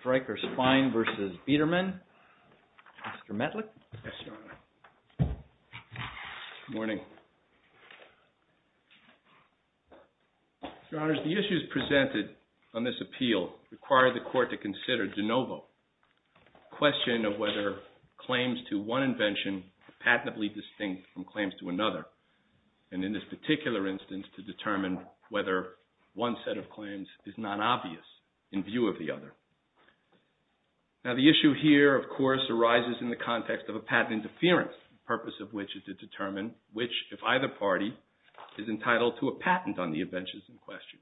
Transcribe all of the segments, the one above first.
STRYKER SPINE v. BIEDERMANN The issues presented on this appeal require the Court to consider de novo, the question of whether claims to one invention are patently distinct from claims to another, and in this particular instance, to determine whether one set of claims is not obvious in view of the other. Now, the issue here, of course, arises in the context of a patent interference, the purpose of which is to determine which, if either party, is entitled to a patent on the invention in question.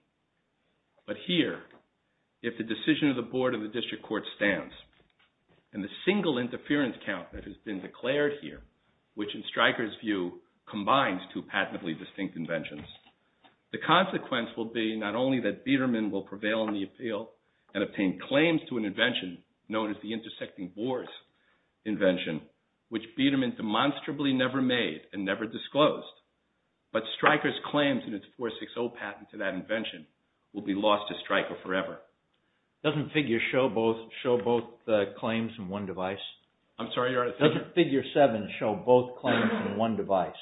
But here, if the decision of the Board of the District Court stands, and the single interference count that has been declared here, which in Stryker's view combines two patently distinct inventions, the consequence will be not only that Biedermann will prevail in the appeal and obtain claims to an invention known as the intersecting boards invention, which Biedermann demonstrably never made and never disclosed, but Stryker's claims in its 460 patent to that invention will be lost to Stryker forever. Doesn't Figure 7 show both claims in one device?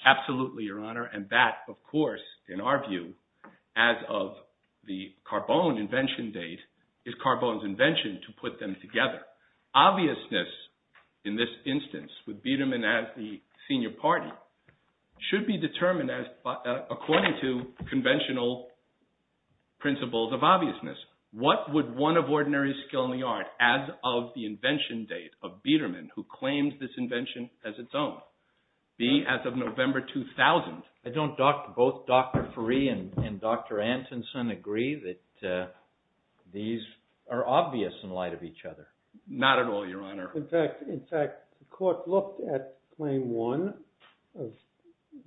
Absolutely, Your Honor, and that, of course, in our view, as of the Carbone invention date, is Carbone's invention to put them together. Obviousness, in this instance, with Biedermann as the senior party, should be determined according to conventional principles of obviousness. What would one of ordinary skill in the art, as of the invention date of Biedermann, who claims this invention as its own, be as of November 2000? Don't both Dr. Faree and Dr. Antonson agree that these are obvious in light of each other? Not at all, Your Honor. In fact, the court looked at Claim 1 of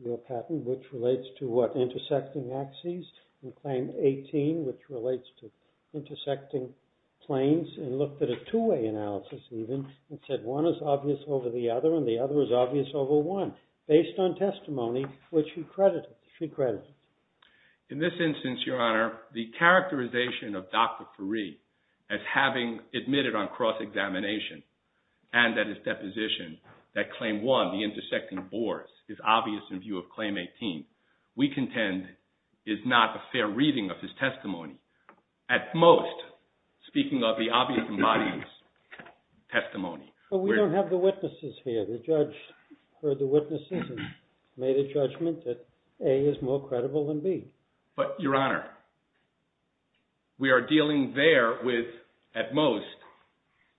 your patent, which relates to what? Intersecting planes and looked at a two-way analysis, even, and said one is obvious over the other and the other is obvious over one, based on testimony which she credited. In this instance, Your Honor, the characterization of Dr. Faree as having admitted on cross-examination and that his deposition that Claim 1, the intersecting boards, is obvious in view of Claim 18, we contend is not a fair reading of his testimony. At most, speaking of the obvious embodied testimony. But we don't have the witnesses here. The judge heard the witnesses and made a judgment that A is more credible than B. But, Your Honor, we are dealing there with, at most,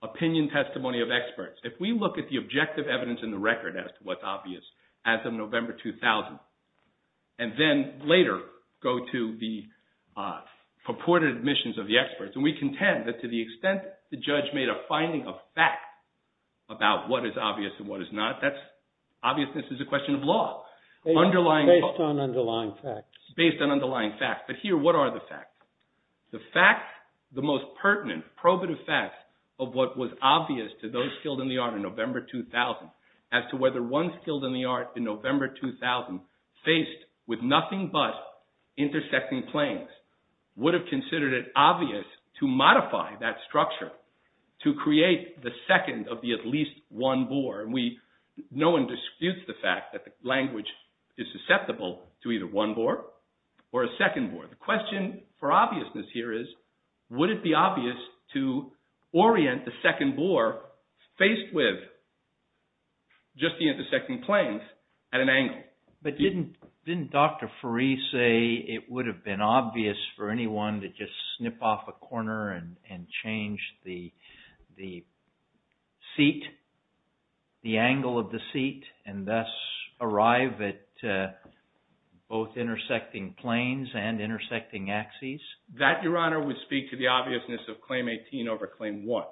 opinion testimony of experts. If we look at the objective evidence in the record as to what's obvious as of November 2000, and then later go to the purported admissions of the experts, and we contend that to the extent the judge made a finding of fact about what is obvious and what is not, that's, obviousness is a question of law. Based on underlying facts. Based on underlying facts. But here, what are the facts? The facts, the most pertinent probative facts of what was obvious to those skilled in the art in November 2000, as to whether one skilled in the art in November 2000, faced with nothing but intersecting planes, would have considered it obvious to modify that structure to create the second of the at least one board. No one disputes the fact that the language is susceptible to either one board or a second board. The question for obviousness here is, would it be obvious to orient the second board, faced with just the intersecting planes, at an angle? But didn't Dr. Fareed say it would have been obvious for anyone to just snip off a corner and change the seat, the angle of the seat, and thus arrive at both intersecting planes and intersecting axes? That, Your Honor, would speak to the obviousness of Claim 18 over Claim 1.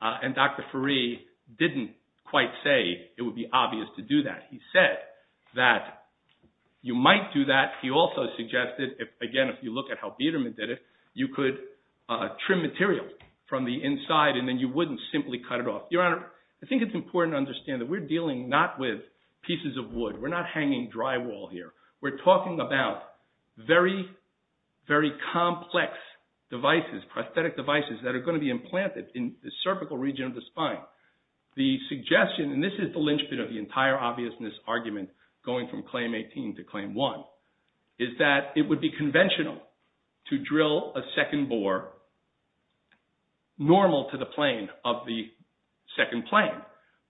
And Dr. Fareed didn't quite say it would be obvious to do that. He said that you might do that. He also suggested, again, if you look at how Biderman did it, you could trim material from the inside and then you wouldn't simply cut it off. Your Honor, I think it's important to understand that we're dealing not with pieces of wood. We're not hanging drywall here. We're talking about very, very complex devices, prosthetic devices, that are going to be implanted in the cervical region of the spine. The suggestion, and this is the linchpin of the entire obviousness argument going from Claim 18 to Claim 1, is that it would be conventional to drill a second bore normal to the plane of the second plane.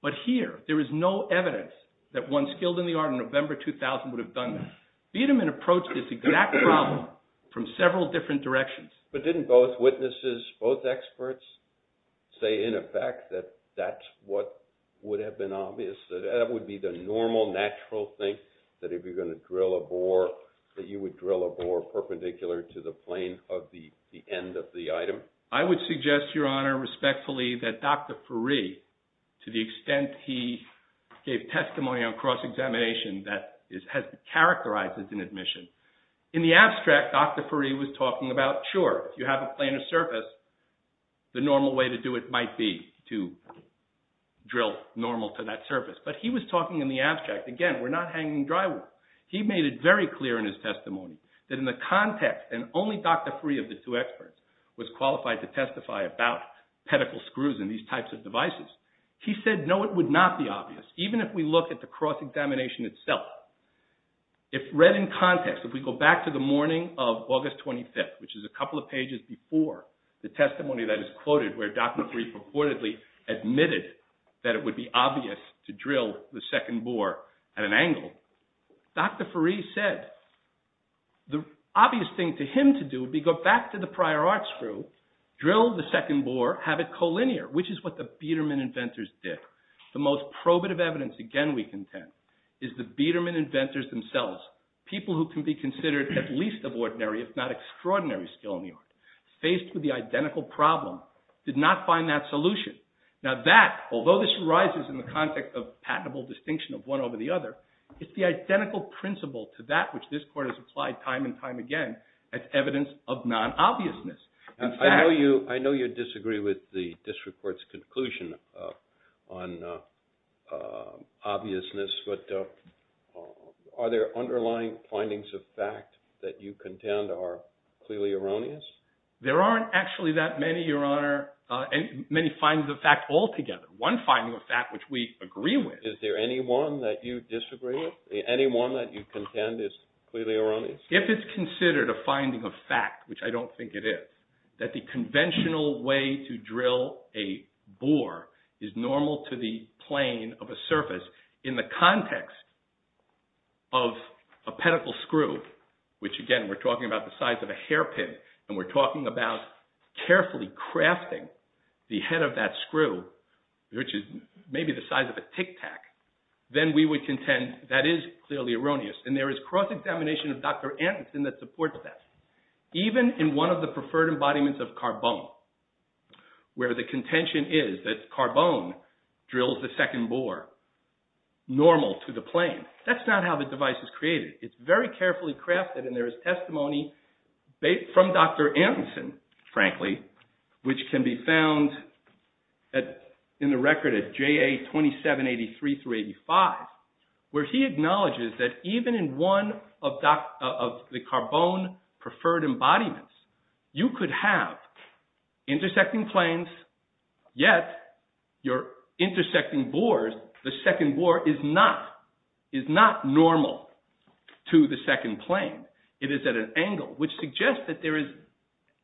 But here, there is no evidence that one skilled in the art in November 2000 would have done that. Biderman approached this exact problem from several different directions. But didn't both witnesses, both experts, say in effect that that's what would have been obvious? That that would be the normal, natural thing, that if you're going to drill a bore, that you would drill a bore perpendicular to the plane of the end of the item? I would suggest, Your Honor, respectfully, that Dr. Furey, to the extent he gave testimony on cross-examination that has been characterized as an admission, in the abstract, Dr. Furey was talking about, sure, if you have a plane of surface, the normal way to do it might be to drill normal to that surface. But he was talking in the abstract. Again, we're not hanging dry wood. He made it very clear in his testimony that in the context, and only Dr. Furey of the two experts was qualified to testify about pedicle screws and these types of devices. He said, no, it would not be obvious. Even if we look at the cross-examination itself, if read in context, if we go back to the morning of August 25th, which is a couple of pages before the testimony that is quoted, where Dr. Furey purportedly admitted that it would be obvious to drill the second bore at an angle, Dr. Furey said the obvious thing to him to do would be go back to the prior arts group, drill the second bore, have it collinear, which is what the Biedermann inventors did. The most probative evidence, again, we contend, is the Biedermann inventors themselves, people who can be considered at least of ordinary if not extraordinary skill in the art, faced with the identical problem, did not find that solution. Now that, although this arises in the context of patentable distinction of one over the other, it's the identical principle to that which this Court has applied time and time again as evidence of non-obviousness. I know you disagree with the district court's conclusion on obviousness, but are there underlying findings of fact that you contend are clearly erroneous? There aren't actually that many, Your Honor, many findings of fact altogether. One finding of fact which we agree with. Is there any one that you disagree with? Any one that you contend is clearly erroneous? If it's considered a finding of fact, which I don't think it is, that the conventional way to drill a bore is normal to the plane of a surface in the context of a pedicle screw, which, again, we're talking about the size of a hairpin, and we're talking about carefully crafting the head of that screw, which is maybe the size of a Tic Tac, then we would contend that is clearly erroneous. And there is cross-examination of Dr. Anderson that supports that. Even in one of the preferred embodiments of carbone, where the contention is that carbone drills the second bore normal to the plane. That's not how the device is created. It's very carefully crafted, and there is testimony from Dr. Anderson, frankly, which can be found in the record at JA 2783-85, where he acknowledges that even in one of the carbone preferred embodiments, you could have intersecting planes, yet your intersecting bores, the second bore, is not normal to the second plane. It is at an angle, which suggests that there is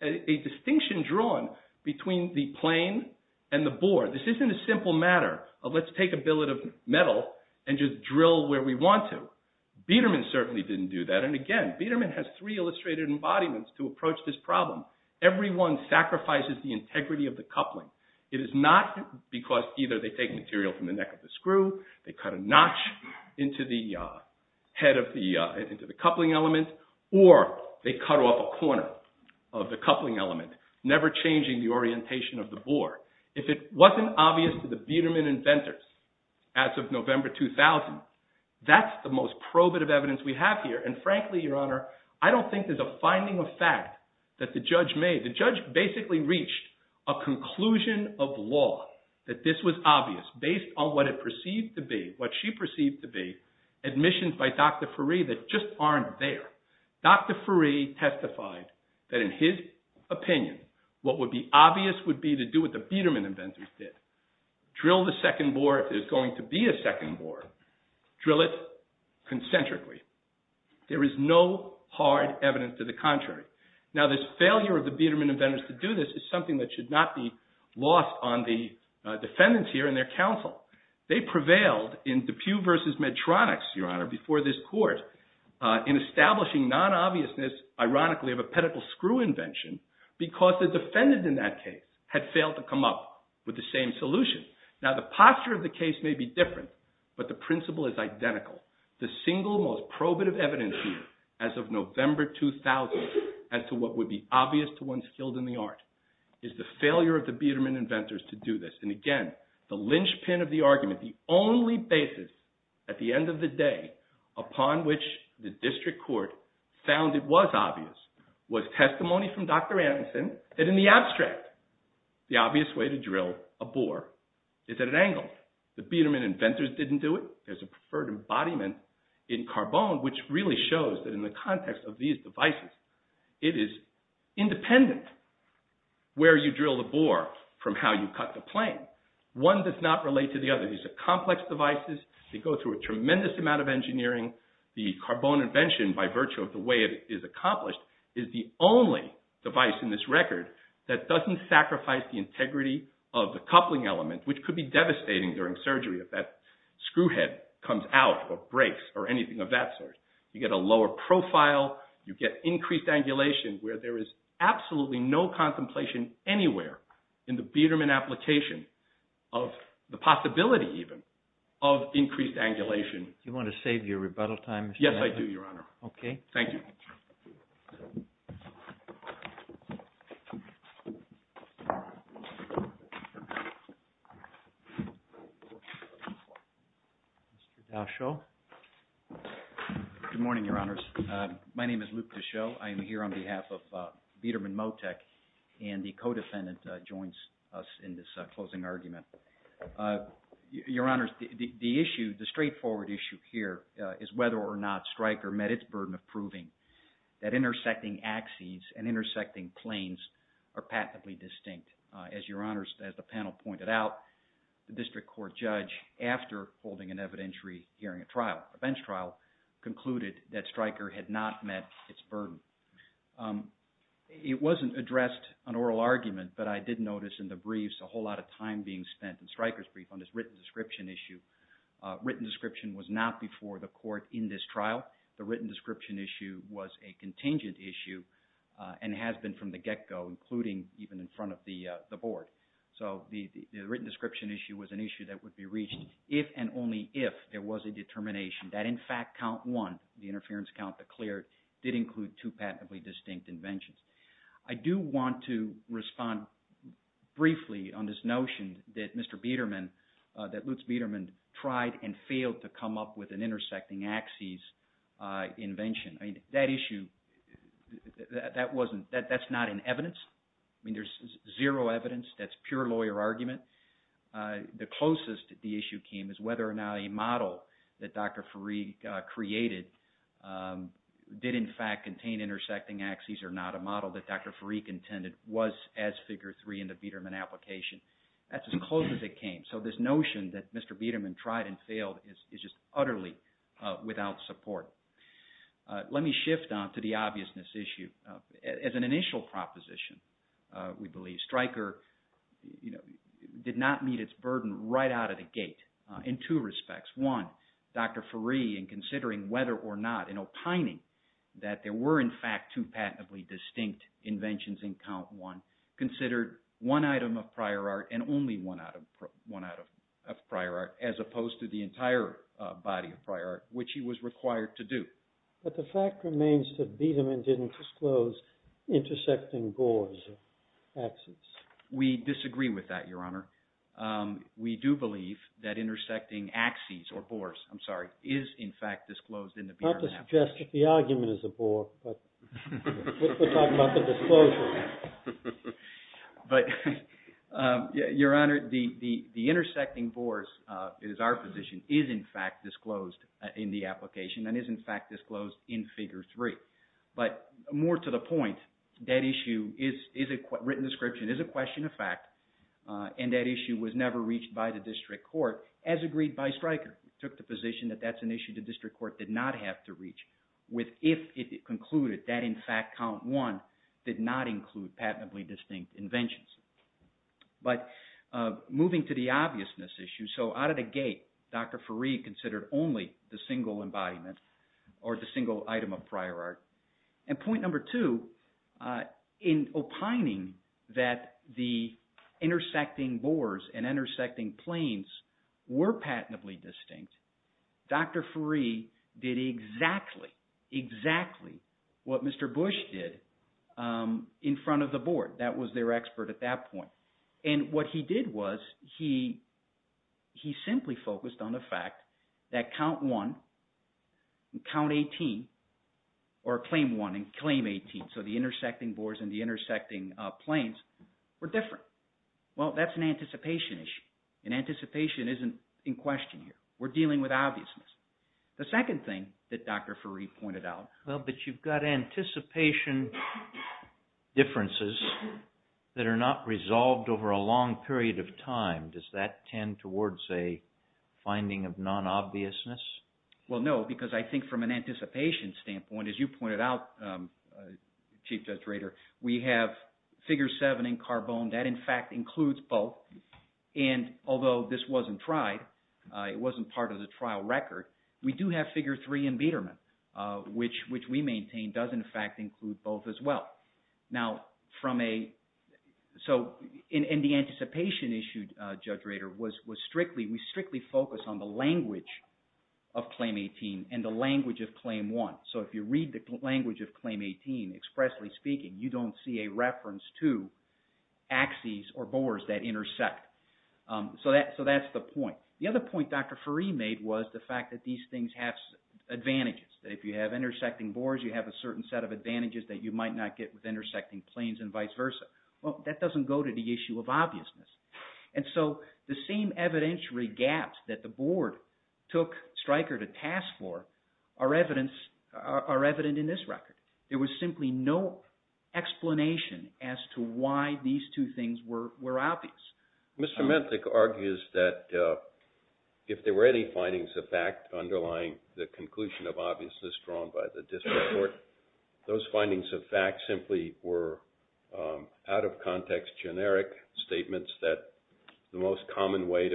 a distinction drawn between the plane and the bore. This isn't a simple matter of let's take a billet of metal and just drill where we want to. Biedermann certainly didn't do that. And again, Biedermann has three illustrated embodiments to approach this problem. Every one sacrifices the integrity of the coupling. It is not because either they take material from the neck of the screw, they cut a notch into the head of the coupling element, or they cut off a corner of the coupling element, never changing the orientation of the bore. If it wasn't obvious to the Biedermann inventors as of November 2000, that's the most probative evidence we have here. And frankly, Your Honor, I don't think there's a finding of fact that the judge made. The judge basically reached a conclusion of law that this was obvious based on what it perceived to be, what she perceived to be admissions by Dr. Furey that just aren't there. Dr. Furey testified that in his opinion, what would be obvious would be to do what the Biedermann inventors did. Drill the second bore if there's going to be a second bore. Drill it concentrically. There is no hard evidence to the contrary. Now, this failure of the Biedermann inventors to do this is something that should not be lost on the defendants here and their counsel. They prevailed in Depew versus Medtronics, Your Honor, before this court in establishing non-obviousness, ironically, of a pedicle screw invention because the defendant in that case had failed to come up with the same solution. Now, the posture of the case may be different, but the principle is identical. The single most probative evidence here as of November 2000 as to what would be obvious to one skilled in the art is the failure of the Biedermann inventors to do this. And again, the lynchpin of the argument, the only basis at the end of the day upon which the district court found it was obvious, was testimony from Dr. Anderson that in the abstract, the obvious way to drill a bore is at an angle. The Biedermann inventors didn't do it. There's a preferred embodiment in Carbone, which really shows that in the context of these devices, it is independent where you drill the bore from how you cut the plane. One does not relate to the other. These are complex devices. They go through a tremendous amount of engineering. The Carbone invention, by virtue of the way it is accomplished, is the only device in this record that doesn't sacrifice the integrity of the coupling element, which could be devastating during surgery if that screw head comes out or breaks or anything of that sort. You get a lower profile. You get increased angulation where there is absolutely no contemplation anywhere in the Biedermann application of the possibility even of increased angulation. Do you want to save your rebuttal time? Yes, I do, Your Honor. Okay. Thank you. Mr. Daschle. Good morning, Your Honors. My name is Luke Daschle. I am here on behalf of Biedermann MoTeC, and the co-defendant joins us in this closing argument. Your Honors, the issue, the straightforward issue here is whether or not Stryker met its burden of proving that intersecting axes and intersecting planes are patently distinct. As Your Honors, as the panel pointed out, the district court judge, after holding an evidentiary hearing trial, a bench trial, concluded that Stryker had not met its burden. It wasn't addressed in an oral argument, but I did notice in the briefs a whole lot of time being spent in Stryker's brief on this written description issue. Written description was not before the court in this trial. The written description issue was a contingent issue and has been from the get-go, including even in front of the board. So the written description issue was an issue that would be reached if and only if there was a determination that in fact count one, the interference count that cleared, did include two patently distinct inventions. I do want to respond briefly on this notion that Mr. Biedermann – that Lutz Biedermann tried and failed to come up with an intersecting axes invention. That issue, that wasn't – that's not in evidence. I mean there's zero evidence. That's pure lawyer argument. The closest the issue came is whether or not a model that Dr. Fareed created did in fact contain intersecting axes or not, a model that Dr. Fareed intended was as figure three in the Biedermann application. That's as close as it came. So this notion that Mr. Biedermann tried and failed is just utterly without support. Let me shift on to the obviousness issue. As an initial proposition, we believe Stryker did not meet its burden right out of the gate in two respects. One, Dr. Fareed, in considering whether or not, in opining that there were in fact two patently distinct inventions in count one, considered one item of prior art and only one item of prior art, as opposed to the entire body of prior art, which he was required to do. But the fact remains that Biedermann didn't disclose intersecting bores or axes. We disagree with that, Your Honor. We do believe that intersecting axes or bores, I'm sorry, is in fact disclosed in the Biedermann application. Not to suggest that the argument is a bore, but we're talking about the disclosure. But Your Honor, the intersecting bores is our position, is in fact disclosed in the application and is in fact disclosed in figure three. But more to the point, that issue is a written description, is a question of fact, and that issue was never reached by the district court as agreed by Stryker. He took the position that that's an issue the district court did not have to reach with if it concluded that in fact count one did not include patently distinct inventions. But moving to the obviousness issue, so out of the gate, Dr. Fareed considered only the single embodiment or the single item of prior art. And point number two, in opining that the intersecting bores and intersecting planes were patently distinct, Dr. Fareed did exactly, exactly what Mr. Bush did in front of the board. That was their expert at that point. And what he did was he simply focused on the fact that count one and count 18 or claim one and claim 18, so the intersecting bores and the intersecting planes were different. Well, that's an anticipation issue, and anticipation isn't in question here. We're dealing with obviousness. The second thing that Dr. Fareed pointed out… But you've got anticipation differences that are not resolved over a long period of time. Does that tend towards a finding of non-obviousness? Well, no, because I think from an anticipation standpoint, as you pointed out, Chief Judge Rader, we have figure seven in Carbone. That, in fact, includes both. And although this wasn't tried, it wasn't part of the trial record, we do have figure three in Biedermann, which we maintain does, in fact, include both as well. Now, from a – so in the anticipation issue, Judge Rader, was strictly – we strictly focused on the language of claim 18 and the language of claim one. So if you read the language of claim 18, expressly speaking, you don't see a reference to axes or bores that intersect. So that's the point. The other point Dr. Fareed made was the fact that these things have advantages, that if you have intersecting bores, you have a certain set of advantages that you might not get with intersecting planes and vice versa. Well, that doesn't go to the issue of obviousness. And so the same evidentiary gaps that the board took Stryker to task for are evident in this record. There was simply no explanation as to why these two things were obvious. Mr. Menthik argues that if there were any findings of fact underlying the conclusion of obviousness drawn by the district court, those findings of fact simply were out-of-context generic statements that the most common way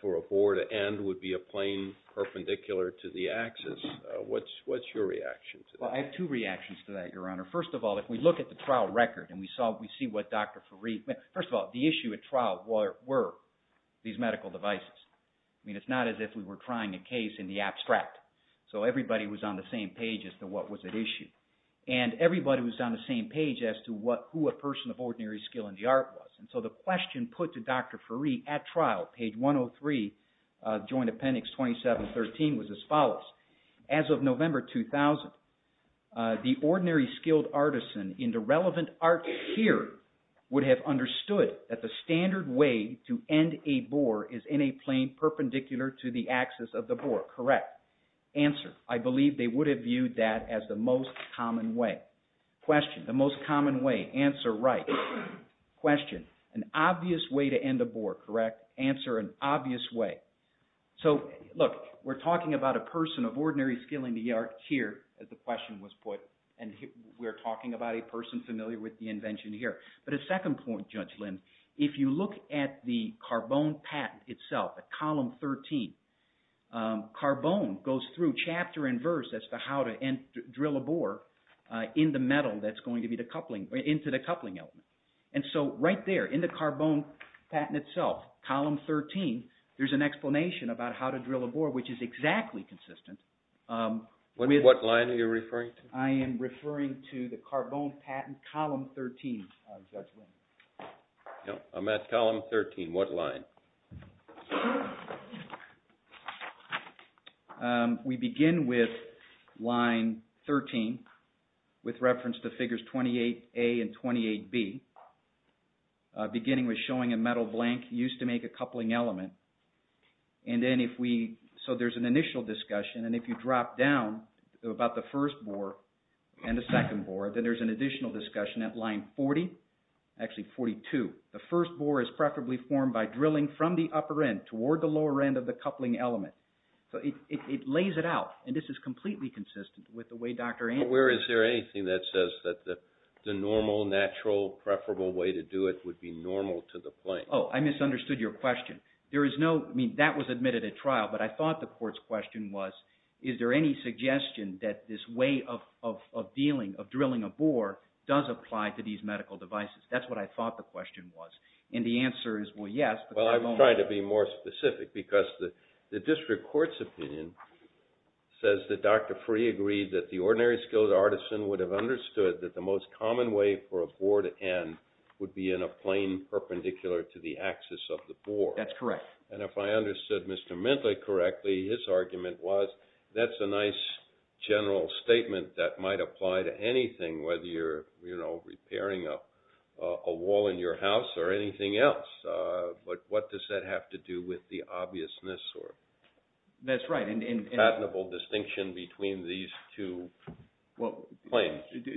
for a bore to end would be a plane perpendicular to the axis. What's your reaction to that? Well, I have two reactions to that, Your Honor. First of all, if we look at the trial record and we see what Dr. Fareed – first of all, the issue at trial were these medical devices. I mean, it's not as if we were trying a case in the abstract. So everybody was on the same page as to what was at issue. And everybody was on the same page as to who a person of ordinary skill in the art was. And so the question put to Dr. Fareed at trial, page 103, Joint Appendix 2713, was as follows. As of November 2000, the ordinary skilled artisan in the relevant art here would have understood that the standard way to end a bore is in a plane perpendicular to the axis of the bore, correct? Answer. I believe they would have viewed that as the most common way. Question. The most common way. Answer right. Question. An obvious way to end a bore, correct? Answer an obvious way. So look, we're talking about a person of ordinary skill in the art here, as the question was put, and we're talking about a person familiar with the invention here. But a second point, Judge Lind, if you look at the Carbone Patent itself, at column 13, Carbone goes through chapter and verse as to how to drill a bore into the coupling element. And so right there in the Carbone Patent itself, column 13, there's an explanation about how to drill a bore, which is exactly consistent with… What line are you referring to? I am referring to the Carbone Patent, column 13, Judge Lind. I'm at column 13. What line? We begin with line 13 with reference to figures 28A and 28B, beginning with showing a metal blank used to make a coupling element. And then if we, so there's an initial discussion, and if you drop down about the first bore and the second bore, then there's an additional discussion at line 40, actually 42. The first bore is preferably formed by drilling from the upper end toward the lower end of the coupling element. So it lays it out, and this is completely consistent with the way Dr. Andy… But where is there anything that says that the normal, natural, preferable way to do it would be normal to the point? Oh, I misunderstood your question. I mean, that was admitted at trial, but I thought the court's question was, is there any suggestion that this way of drilling a bore does apply to these medical devices? That's what I thought the question was. And the answer is, well, yes, but… Well, I'm trying to be more specific because the district court's opinion says that Dr. Free agreed that the ordinary skilled artisan would have understood that the most common way for a bore to end would be in a plane perpendicular to the axis of the bore. That's correct. And if I understood Mr. Mintley correctly, his argument was, that's a nice general statement that might apply to anything, whether you're repairing a wall in your house or anything else. But what does that have to do with the obviousness or patentable distinction between these two planes? Well,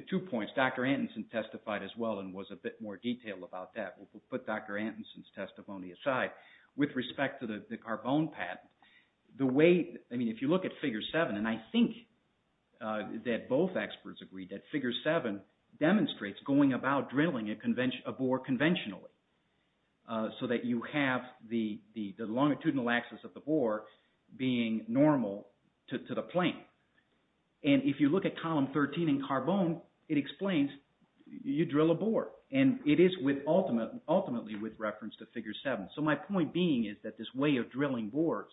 two points. Dr. Antonsen testified as well and was a bit more detailed about that. We'll put Dr. Antonsen's testimony aside. With respect to the carbone patent, the way – I mean, if you look at Figure 7, and I think that both experts agreed that Figure 7 demonstrates going about drilling a bore conventionally so that you have the longitudinal axis of the bore being normal to the plane. And if you look at column 13 in carbone, it explains you drill a bore, and it is ultimately with reference to Figure 7. So my point being is that this way of drilling bores,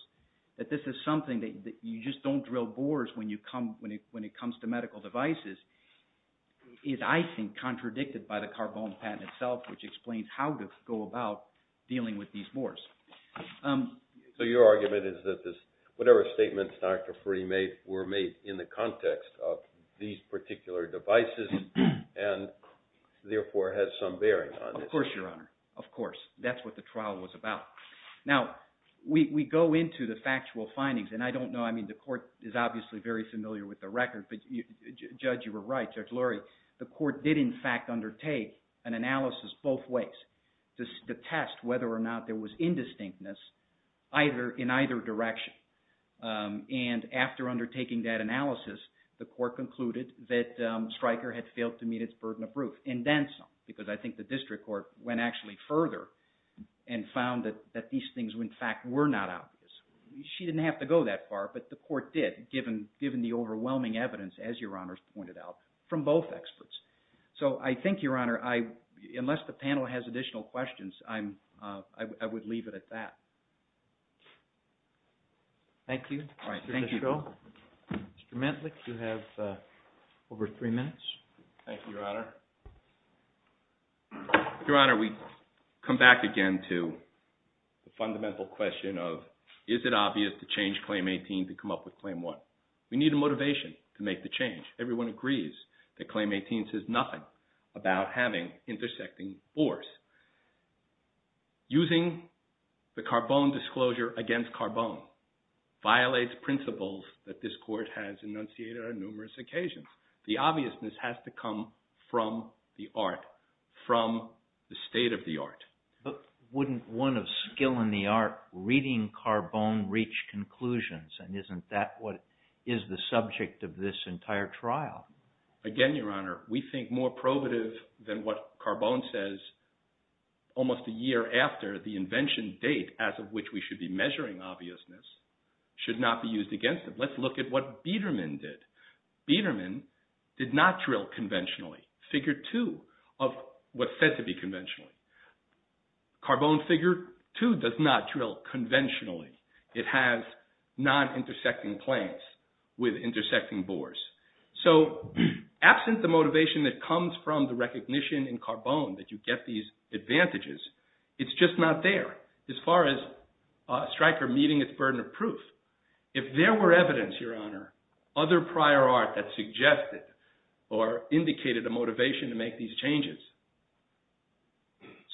that this is something that you just don't drill bores when it comes to medical devices, is, I think, contradicted by the carbone patent itself, which explains how to go about dealing with these bores. So your argument is that whatever statements Dr. Frey made were made in the context of these particular devices and therefore has some bearing on this? Of course, Your Honor. Of course. That's what the trial was about. Now, we go into the factual findings, and I don't know – I mean, the court is obviously very familiar with the record. Judge, you were right. Judge Lurie, the court did, in fact, undertake an analysis both ways to test whether or not there was indistinctness in either direction. And after undertaking that analysis, the court concluded that Stryker had failed to meet its burden of proof, and then some, because I think the district court went actually further and found that these things, in fact, were not obvious. She didn't have to go that far, but the court did, given the overwhelming evidence, as Your Honor has pointed out, from both experts. So I think, Your Honor, unless the panel has additional questions, I would leave it at that. Thank you. All right. Thank you. Mr. Mentlick, you have over three minutes. Thank you, Your Honor. Your Honor, we come back again to the fundamental question of, is it obvious to change Claim 18 to come up with Claim 1? We need a motivation to make the change. Everyone agrees that Claim 18 says nothing about having intersecting bores. Using the Carbone disclosure against Carbone violates principles that this court has enunciated on numerous occasions. The obviousness has to come from the art, from the state of the art. But wouldn't one of skill in the art reading Carbone reach conclusions, and isn't that what is the subject of this entire trial? Again, Your Honor, we think more probative than what Carbone says almost a year after the invention date as of which we should be measuring obviousness should not be used against it. Let's look at what Biedermann did. Biedermann did not drill conventionally, Figure 2 of what's said to be conventionally. Carbone Figure 2 does not drill conventionally. It has non-intersecting claims with intersecting bores. So absent the motivation that comes from the recognition in Carbone that you get these advantages, it's just not there as far as Stryker meeting its burden of proof. If there were evidence, Your Honor, other prior art that suggested or indicated a motivation to make these changes,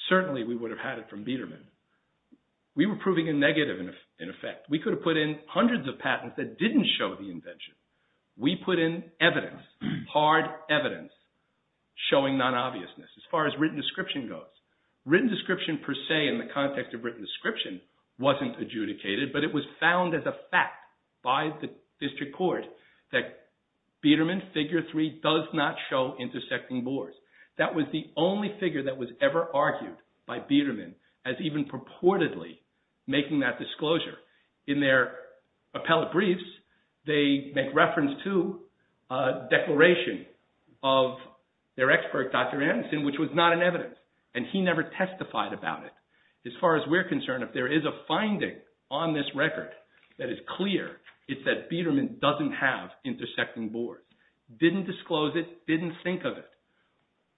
certainly we would have had it from Biedermann. We were proving a negative in effect. We could have put in hundreds of patents that didn't show the invention. We put in evidence, hard evidence showing non-obviousness as far as written description goes. Written description per se in the context of written description wasn't adjudicated, but it was found as a fact by the district court that Biedermann Figure 3 does not show intersecting bores. That was the only figure that was ever argued by Biedermann as even purportedly making that disclosure. In their appellate briefs, they make reference to a declaration of their expert, Dr. Anderson, which was not in evidence, and he never testified about it. As far as we're concerned, if there is a finding on this record that is clear, it's that Biedermann doesn't have intersecting bores. Didn't disclose it, didn't think of it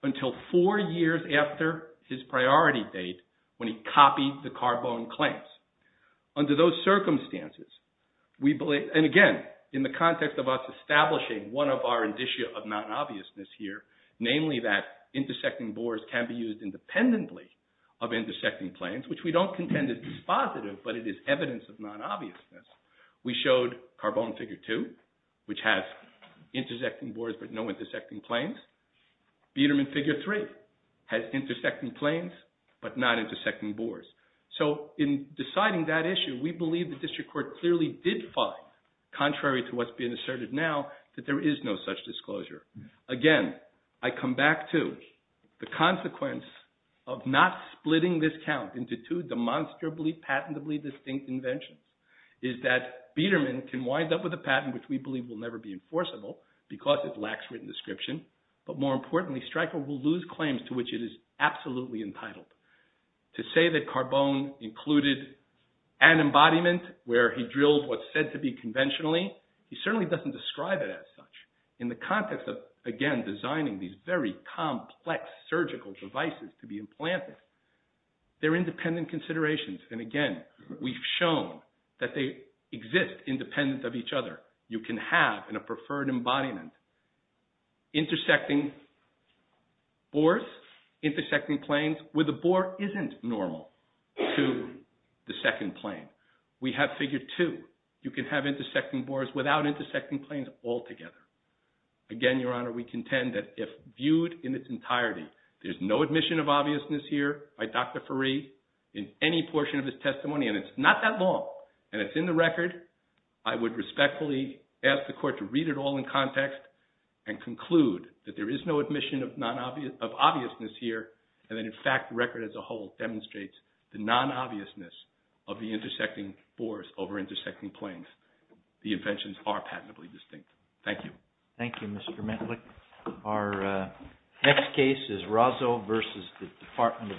until four years after his priority date when he copied the Carbone claims. Under those circumstances, and again, in the context of us establishing one of our indicia of non-obviousness here, namely that intersecting bores can be used independently of intersecting planes, which we don't contend is dispositive, but it is evidence of non-obviousness. We showed Carbone Figure 2, which has intersecting bores but no intersecting planes. Biedermann Figure 3 has intersecting planes but not intersecting bores. So in deciding that issue, we believe the district court clearly did find, contrary to what's being asserted now, that there is no such disclosure. Again, I come back to the consequence of not splitting this count into two demonstrably patentably distinct inventions is that Biedermann can wind up with a patent which we believe will never be enforceable because it lacks written description, but more importantly, Streicher will lose claims to which it is absolutely entitled. To say that Carbone included an embodiment where he drilled what's said to be conventionally, he certainly doesn't describe it as such. In the context of, again, designing these very complex surgical devices to be implanted, they're independent considerations, and again, we've shown that they exist independent of each other. You can have, in a preferred embodiment, intersecting bores, intersecting planes, where the bore isn't normal to the second plane. We have Figure 2. You can have intersecting bores without intersecting planes altogether. Again, Your Honor, we contend that if viewed in its entirety, there's no admission of obviousness here by Dr. Fareed in any portion of his testimony, and it's not that long, and it's in the record, I would respectfully ask the Court to read it all in context and conclude that there is no admission of obviousness here, and that, in fact, the record as a whole demonstrates the non-obviousness of the intersecting bores over intersecting planes. The inventions are patentably distinct. Thank you. Thank you, Mr. Metlick. Our next case is Razzo versus the Department of Veterans Affairs.